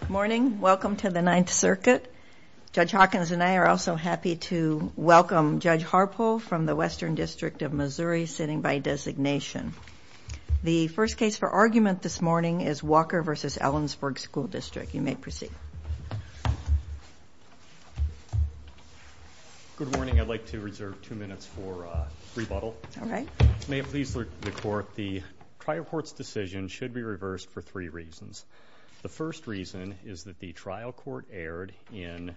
Good morning. Welcome to the Ninth Circuit. Judge Hawkins and I are also happy to welcome Judge Harpole from the Western District of Missouri sitting by designation. The first case for argument this morning is Walker v. Ellensburg School District. You may proceed. Good morning. I'd like to reserve two minutes for rebuttal. All right. May it please the Court, the trial court's decision should be reversed for three reasons. The first reason is that the trial court erred in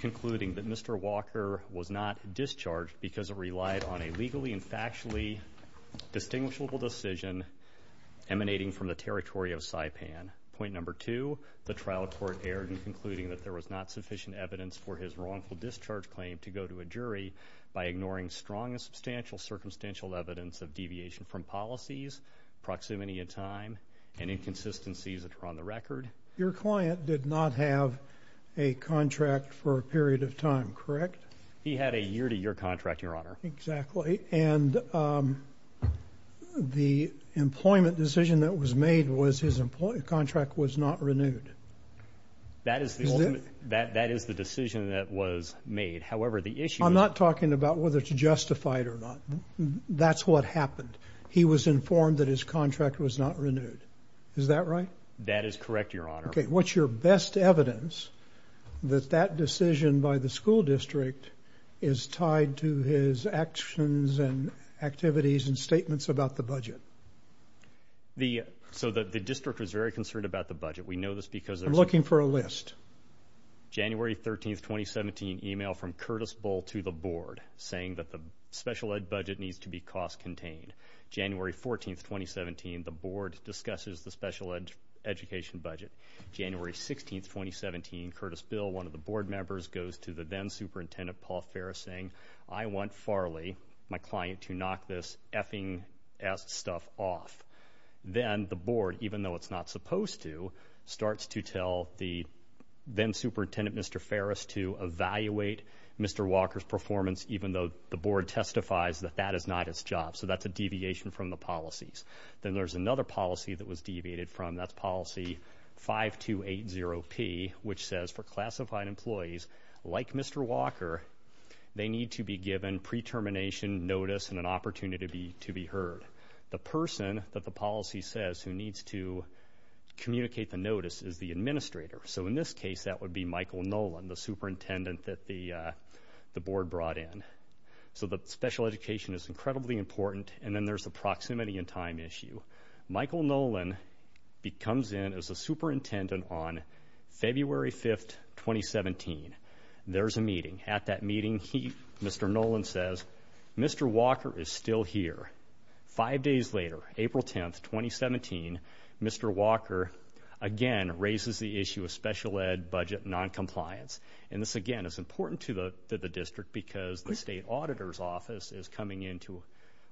concluding that Mr. Walker was not discharged because it relied on a legally and factually distinguishable decision emanating from the territory of Saipan. Point number two, the trial court erred in concluding that there was not sufficient evidence for his wrongful discharge claim to go to a jury by ignoring strong and substantial circumstantial evidence of deviation from policies, proximity in time, and inconsistencies that are on the record. Your client did not have a contract for a period of time, correct? He had a year-to-year contract, Your Honor. Exactly. And the employment decision that was made was his employment contract was not renewed. That is the decision that was made. However, the issue is... That's what happened. He was informed that his contract was not renewed. Is that right? That is correct, Your Honor. Okay. What's your best evidence that that decision by the school district is tied to his actions and activities and statements about the budget? So the district was very concerned about the budget. We know this because... I'm looking for a list. January 13th, 2017, email from Curtis Bull to the board saying that the special ed budget needs to be cost-contained. January 14th, 2017, the board discusses the special education budget. January 16th, 2017, Curtis Bill, one of the board members, goes to the then-Superintendent Paul Ferris saying, I want Farley, my client, to knock this effing ass stuff off. Then the board, even though it's not supposed to, starts to tell the then-Superintendent Mr. Ferris to evaluate Mr. Walker's performance, even though the board testifies that that is not his job. So that's a deviation from the policies. Then there's another policy that was deviated from, that's policy 5280P, which says for classified employees like Mr. Walker, they need to be given pre-termination notice and an opportunity to be heard. The person that the policy says who needs to communicate the notice is the administrator. So in this case, that would be Michael Nolan, the superintendent that the board brought in. So the special education is incredibly important, and then there's the proximity and time issue. Michael Nolan comes in as a superintendent on February 5th, 2017. There's a meeting. At that meeting, Mr. Nolan says, Mr. Walker is still here. Five days later, April 10th, 2017, Mr. Walker again raises the issue of special ed budget noncompliance. And this, again, is important to the district because the state auditor's office is coming in to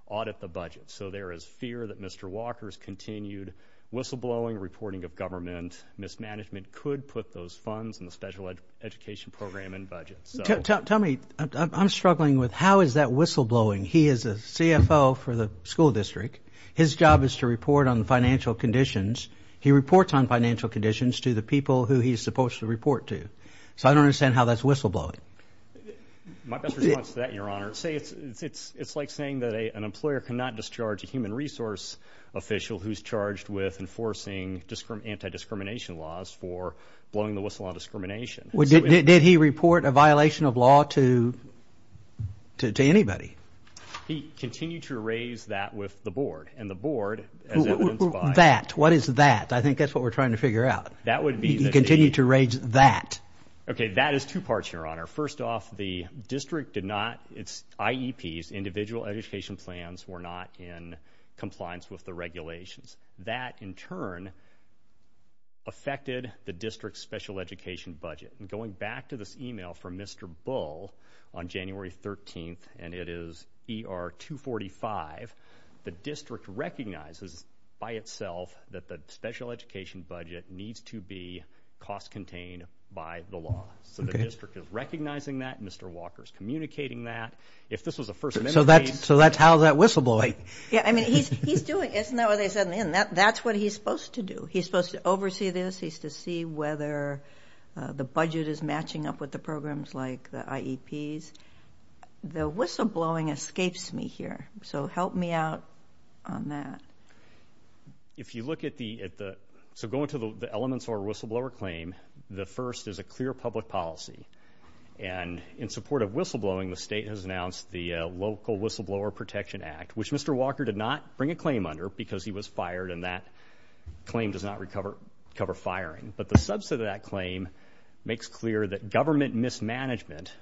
audit the budget. So there is fear that Mr. Walker's continued whistleblowing, reporting of government mismanagement could put those funds in the special education program and budget. Tell me, I'm struggling with how is that whistleblowing? He is a CFO for the school district. His job is to report on the financial conditions. He reports on financial conditions to the people who he's supposed to report to. So I don't understand how that's whistleblowing. My best response to that, Your Honor, say it's like saying that an employer cannot discharge a human resource official who's charged with enforcing anti-discrimination laws for blowing the whistle on discrimination. Did he report a violation of law to anybody? He continued to raise that with the board. And the board, as evidenced by- That. What is that? I think that's what we're trying to figure out. That would be- He continued to raise that. Okay. That is two parts, Your Honor. First off, the district did not, its IEPs, Individual Education Plans, were not in compliance with the regulations. That in turn affected the district's special education budget. Going back to this email from Mr. Bull on January 13th, and it is ER 245, the district recognizes by itself that the special education budget needs to be cost-contained by the law. So the district is recognizing that, Mr. Walker's communicating that. If this was a first amendment case- So that's how that whistleblowing- Yeah. I mean, he's doing it. Isn't that what they said in the end? That's what he's supposed to do. He's supposed to oversee this. He's to see whether the budget is matching up with the programs like the IEPs. The whistleblowing escapes me here. So help me out on that. If you look at the- So go into the elements of our whistleblower claim. The first is a clear public policy. And in support of whistleblowing, the state has announced the Local Whistleblower Protection Act, which Mr. Walker did not bring a claim under because he was fired, and that claim does not recover firing. But the subset of that claim makes clear that government mismanagement,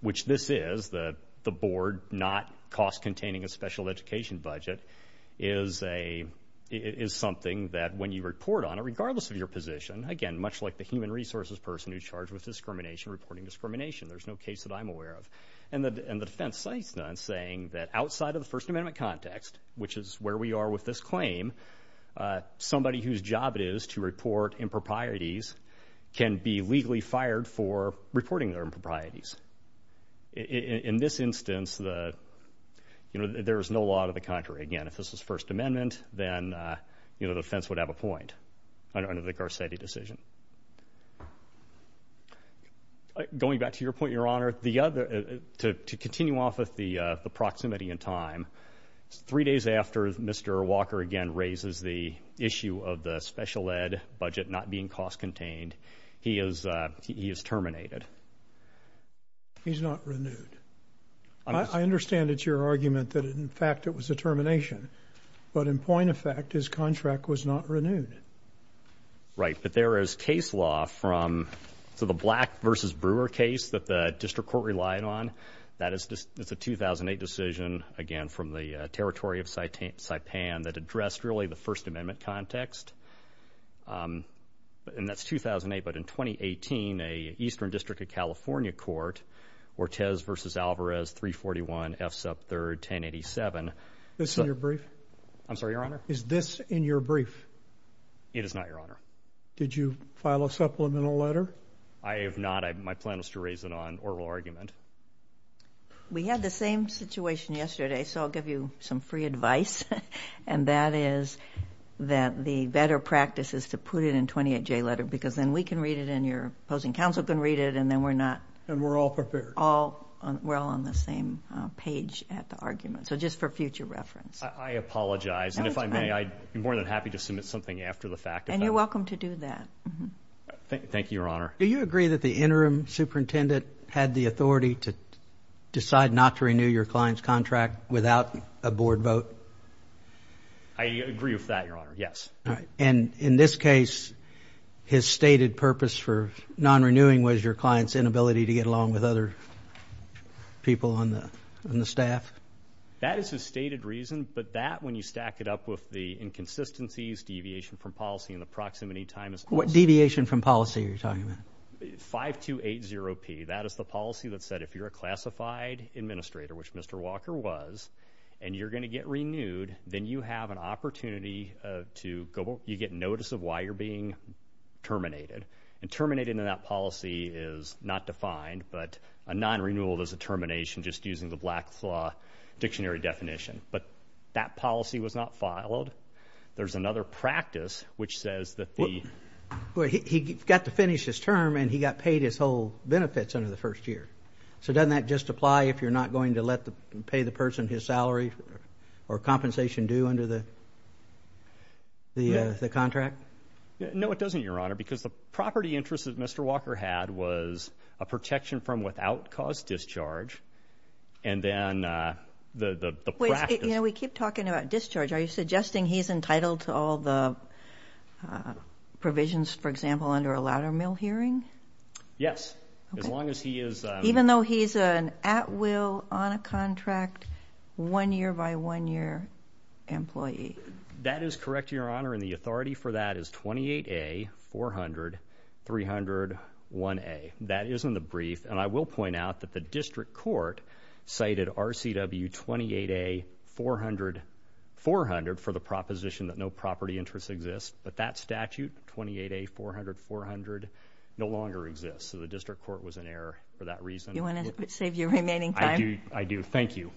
which this is, the board not cost-containing a special education budget, is something that when you report on it, regardless of your position, again, much like the human resources person who's charged with discrimination reporting discrimination, there's no case that I'm aware of. And the defense cites that in saying that outside of the First Amendment context, which is where we are with this claim, somebody whose job it is to report improprieties can be legally fired for reporting their improprieties. And again, if this was First Amendment, then, you know, the defense would have a point under the Garcetti decision. Going back to your point, Your Honor, to continue off of the proximity and time, three days after Mr. Walker again raises the issue of the special ed budget not being cost-contained, he is terminated. He's not renewed. I understand it's your argument that, in fact, it was a termination. But in point of fact, his contract was not renewed. Right. But there is case law from, so the Black v. Brewer case that the district court relied on, that is a 2008 decision, again, from the territory of Saipan that addressed really the First Amendment context, and that's 2008. But in 2018, an Eastern District of California court, Ortez v. Alvarez, 341 F. Sup. 3rd, 1087. Is this in your brief? I'm sorry, Your Honor? Is this in your brief? It is not, Your Honor. Did you file a supplemental letter? I have not. My plan was to raise it on oral argument. We had the same situation yesterday, so I'll give you some free advice, and that is that the better practice is to put it in a 28-J letter, because then we can read it, and your opposing counsel can read it, and then we're not... And we're all prepared. We're all on the same page at the argument, so just for future reference. I apologize, and if I may, I'd be more than happy to submit something after the fact. And you're welcome to do that. Thank you, Your Honor. Do you agree that the interim superintendent had the authority to decide not to renew your client's contract without a board vote? I agree with that, Your Honor. Yes. All right. And in this case, his stated purpose for non-renewing was your client's inability to get along with other people on the staff? That is his stated reason, but that, when you stack it up with the inconsistencies, deviation from policy, and the proximity time is... What deviation from policy are you talking about? 5-2-8-0-P. That is the policy that said if you're a classified administrator, which Mr. Walker was, and you're going to get renewed, then you have an opportunity to get notice of why you're being terminated. And terminated in that policy is not defined, but a non-renewal is a termination just using the Black Claw Dictionary definition. But that policy was not filed. There's another practice, which says that the... He got to finish his term, and he got paid his whole benefits under the first year. So doesn't that just apply if you're not going to let the... pay the person his salary or compensation due under the contract? No, it doesn't, Your Honor, because the property interest that Mr. Walker had was a protection from without-cause discharge, and then the practice... Wait. You know, we keep talking about discharge. Are you suggesting he's entitled to all the provisions, for example, under a ladder mill hearing? Yes. Okay. As long as he is... Even though he's an at-will, on-a-contract, one-year-by-one-year employee. That is correct, Your Honor, and the authority for that is 28A 400-301A. That is in the brief, and I will point out that the district court cited RCW 28A 400-400 for the proposition that no property interest exists, but that statute, 28A 400-400, no longer exists. So the district court was in error for that reason. Do you want to save your remaining time? I do. Thank you.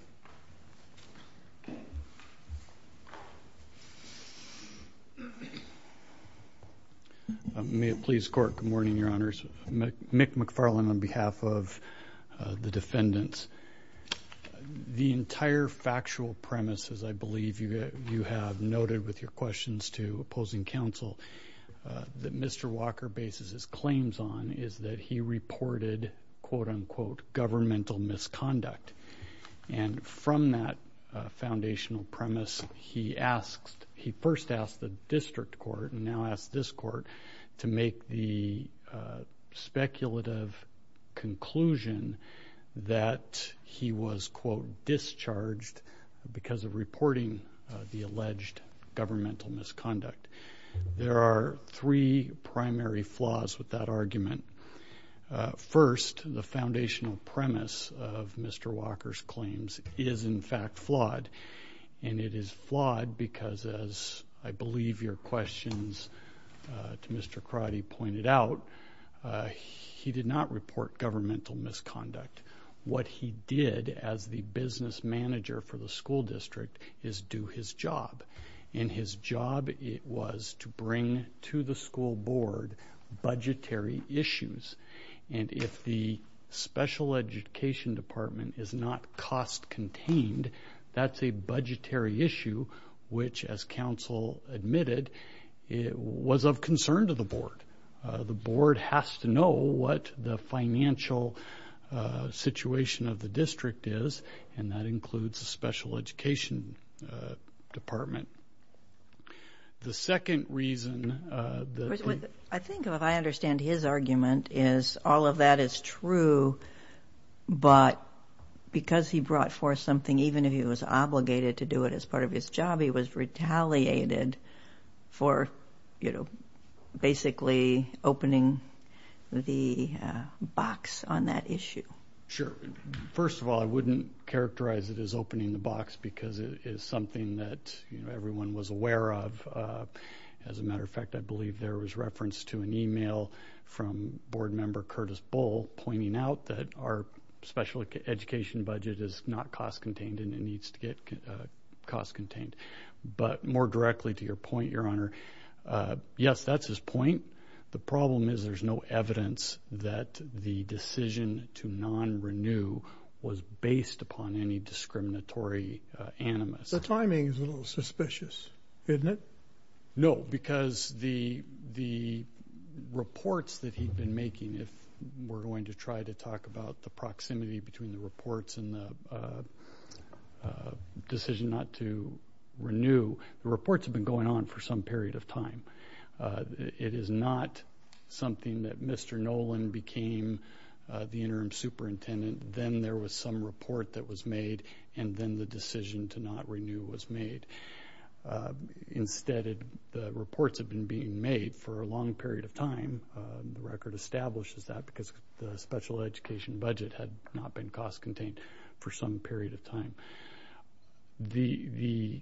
May it please the Court, good morning, Your Honors. Mick McFarlane on behalf of the defendants. The entire factual premise, as I believe you have noted with your questions to opposing counsel, that Mr. Walker bases his claims on is that he reported, quote-unquote, governmental misconduct. And from that foundational premise, he asked... he first asked the district court and now asked this court to make the speculative conclusion that he was, quote, discharged because of reporting the alleged governmental misconduct. There are three primary flaws with that argument. First, the foundational premise of Mr. Walker's claims is, in fact, flawed, and it is flawed because, as I believe your questions to Mr. Crotty pointed out, he did not report governmental misconduct. What he did, as the business manager for the school district, is do his job, and his job was to bring to the school board budgetary issues, and if the special education department is not cost-contained, that's a budgetary issue, which, as counsel admitted, was of concern to the board. The board has to know what the financial situation of the district is, and that includes the special education department. The second reason... I think, if I understand his argument, is all of that is true, but because he brought forth something, even if he was obligated to do it as part of his job, he was retaliated for basically opening the box on that issue. Sure. First of all, I wouldn't characterize it as opening the box because it is something that everyone was aware of. As a matter of fact, I believe there was reference to an email from board member Curtis Bull pointing out that our special education budget is not cost-contained and it needs to get cost-contained. But more directly to your point, Your Honor, yes, that's his point. The problem is there's no evidence that the decision to non-renew was based upon any discriminatory animus. The timing is a little suspicious, isn't it? No, because the reports that he'd been making, if we're going to try to talk about the proximity between the reports and the decision not to renew, the reports have been going on for some period of time. It is not something that Mr. Nolan became the interim superintendent, then there was some report that was made, and then the decision to not renew was made. Instead, the reports have been being made for a long period of time, the record establishes that, because the special education budget had not been cost-contained for some period of time. The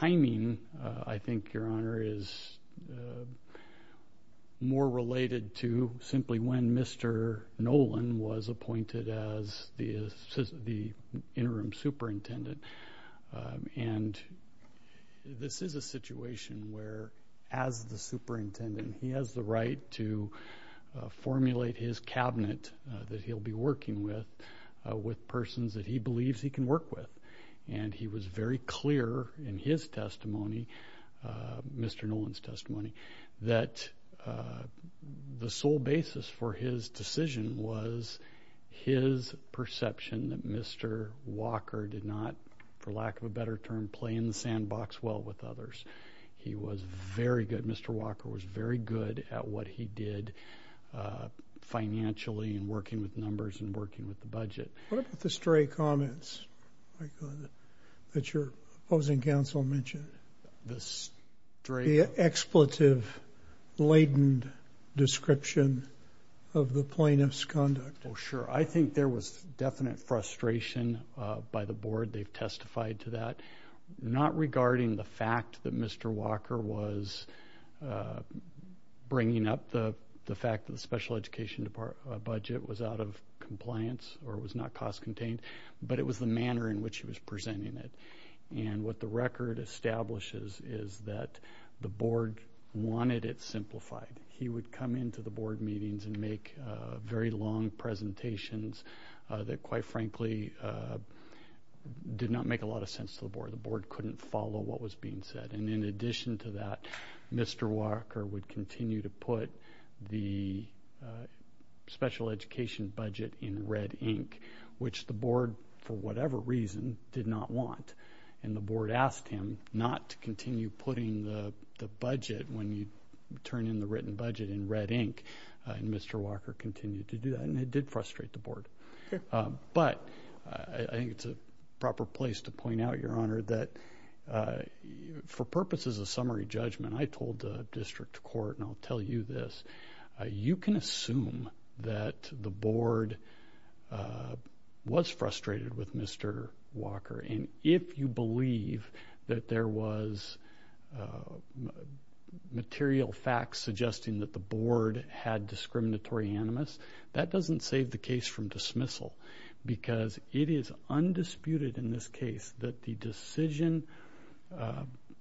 timing, I think, Your Honor, is more related to simply when Mr. Nolan was appointed as the interim superintendent. And this is a situation where, as the superintendent, he has the right to formulate his cabinet that he'll be working with, with persons that he believes he can work with. And he was very clear in his testimony, Mr. Nolan's testimony, that the sole basis for his decision was his perception that Mr. Walker did not, for lack of a better term, play in the sandbox well with others. He was very good, Mr. Walker was very good at what he did financially and working with numbers and working with the budget. What about the stray comments that your opposing counsel mentioned? The stray... The expletive-laden description of the plaintiff's conduct. Oh, sure. I think there was definite frustration by the board. They've testified to that, not regarding the fact that Mr. Walker was bringing up the fact that the special education budget was out of compliance or was not cost-contained, but it was the manner in which he was presenting it. And what the record establishes is that the board wanted it simplified. He would come into the board meetings and make very long presentations that, quite frankly, did not make a lot of sense to the board. The board couldn't follow what was being said. And in addition to that, Mr. Walker would continue to put the special education budget in red ink, which the board, for whatever reason, did not want. And the board asked him not to continue putting the budget when you turn in the written budget in red ink, and Mr. Walker continued to do that, and it did frustrate the board. But I think it's a proper place to point out, Your Honor, that for purposes of summary judgment, I told the district court, and I'll tell you this, you can assume that the board was frustrated with Mr. Walker, and if you believe that there was material facts suggesting that the board had discriminatory animus, that doesn't save the case from dismissal, because it is undisputed in this case that the decision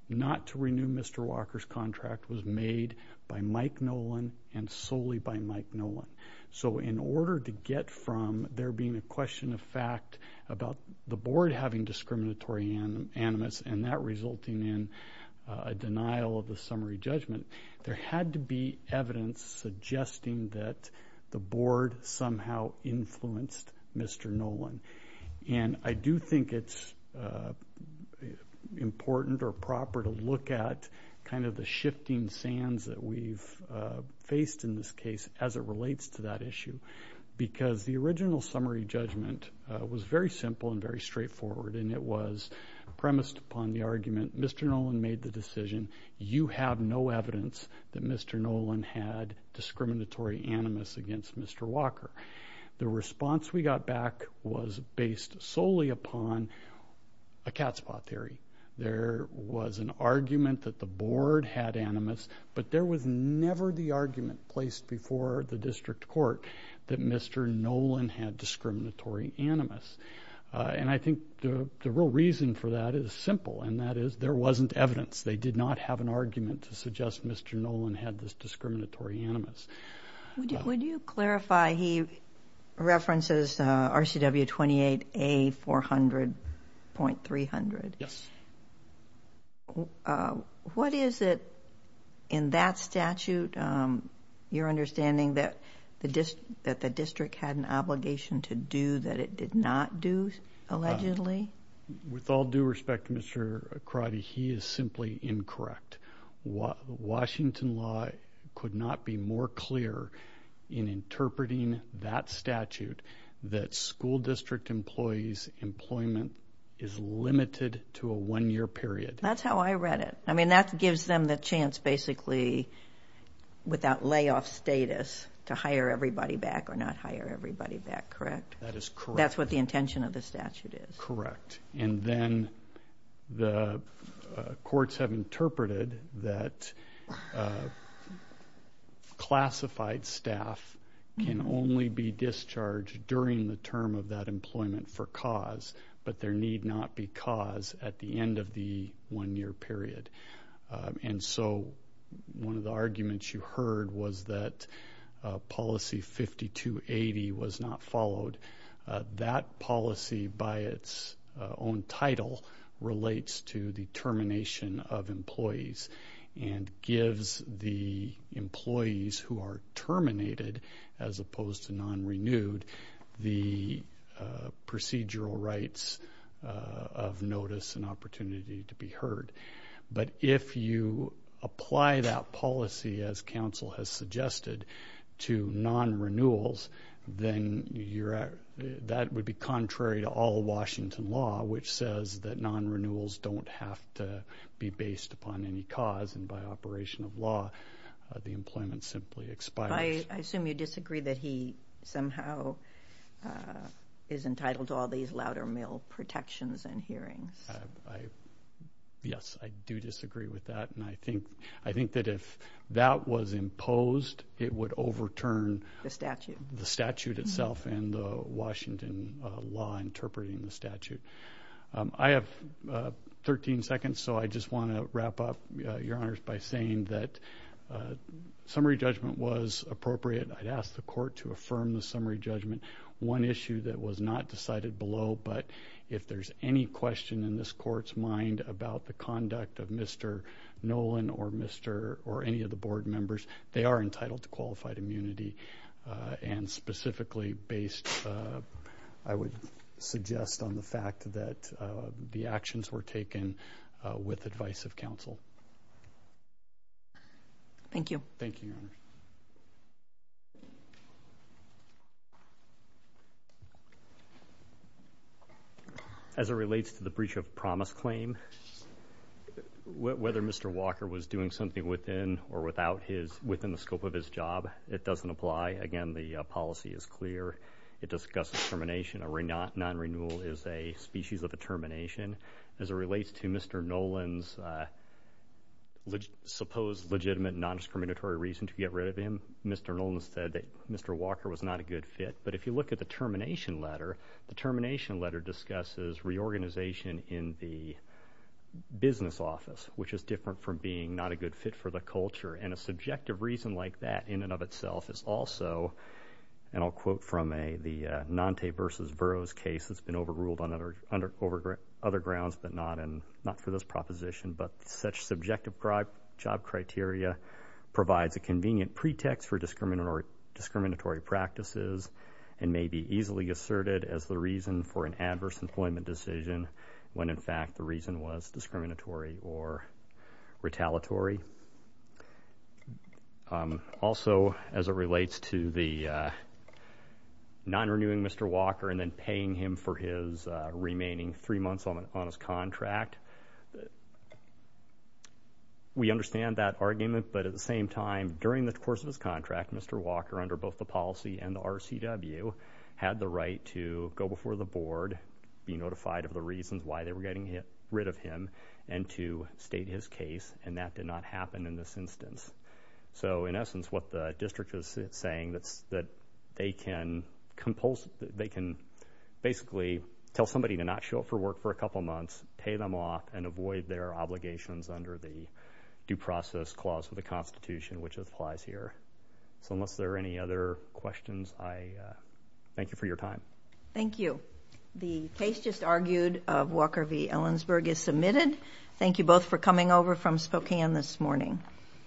not to renew Mr. Walker's contract was made by Mike Nolan and solely by Mike Nolan. So in order to get from there being a question of fact about the board having discriminatory animus and that resulting in a denial of the summary judgment, there had to be evidence suggesting that the board somehow influenced Mr. Nolan. And I do think it's important or proper to look at kind of the shifting sands that we've faced in this case as it relates to that issue, because the original summary judgment was very simple and very straightforward, and it was premised upon the argument, Mr. Nolan made the decision, you have no evidence that Mr. Nolan had discriminatory animus against Mr. Walker. The response we got back was based solely upon a cat's paw theory. There was an argument that the board had animus, but there was never the argument placed before the district court that Mr. Nolan had discriminatory animus. And I think the real reason for that is simple, and that is there wasn't evidence. They did not have an argument to suggest Mr. Nolan had this discriminatory animus. Would you clarify, he references RCW 28A 400.300. Yes. What is it in that statute, your understanding that the district had an obligation to do that it did not do allegedly? With all due respect, Mr. Crotty, he is simply incorrect. Washington law could not be more clear in interpreting that statute that school district employees' employment is limited to a one-year period. That's how I read it. I mean, that gives them the chance, basically, without layoff status, to hire everybody back or not hire everybody back, correct? That is correct. That's what the intention of the statute is. Correct. And then the courts have interpreted that classified staff can only be discharged during the term of that employment for cause, but there need not be cause at the end of the one-year period. And so one of the arguments you heard was that policy 5280 was not followed. That policy, by its own title, relates to the termination of employees and gives the employees who are terminated, as opposed to non-renewed, the procedural rights of notice and opportunity to be heard. But if you apply that policy, as council has suggested, to non-renewals, then that would be contrary to all Washington law, which says that non-renewals don't have to be based upon any cause, and by operation of law, the employment simply expires. I assume you disagree that he somehow is entitled to all these Loudermill protections and hearings. Yes, I do disagree with that, and I think that if that was imposed, it would overturn the statute. The statute itself and the Washington law interpreting the statute. I have 13 seconds, so I just want to wrap up, Your Honors, by saying that summary judgment was appropriate. I'd ask the court to affirm the summary judgment. One issue that was not decided below, but if there's any question in this court's mind about the conduct of Mr. Nolan or any of the board members, they are entitled to qualified immunity, and specifically based, I would suggest, on the fact that the actions were taken with advice of council. Thank you. Thank you, Your Honor. As it relates to the breach of promise claim, whether Mr. Walker was doing something within or without his, within the scope of his job, it doesn't apply. Again, the policy is clear. It discusses termination. A non-renewal is a species of a termination. As it relates to Mr. Nolan's supposed legitimate non-discriminatory reason to get rid of him, Mr. Nolan said that Mr. Walker was not a good fit. But if you look at the termination letter, the termination letter discusses reorganization in the business office, which is different from being not a good fit for the culture. And a subjective reason like that in and of itself is also, and I'll quote from the Nante versus Verro's case that's been overruled on other grounds, but not for this proposition, but such subjective job criteria provides a convenient pretext for discriminatory practices and may be easily asserted as the reason for an adverse employment decision when in fact the reason was discriminatory or retaliatory. Also, as it relates to the non-renewing Mr. Walker and then paying him for his remaining three months on his contract, we understand that argument, but at the same time, during the course of his term, Mr. Walker had the right to go before the board, be notified of the reasons why they were getting rid of him, and to state his case. And that did not happen in this instance. So in essence, what the district is saying that they can basically tell somebody to not show up for work for a couple months, pay them off, and avoid their obligations under the due process clause of the Constitution, which applies here. So unless there are any other questions, I thank you for your time. Thank you. The case just argued of Walker v Ellensburg is submitted. Thank you both for coming over from Spokane this morning.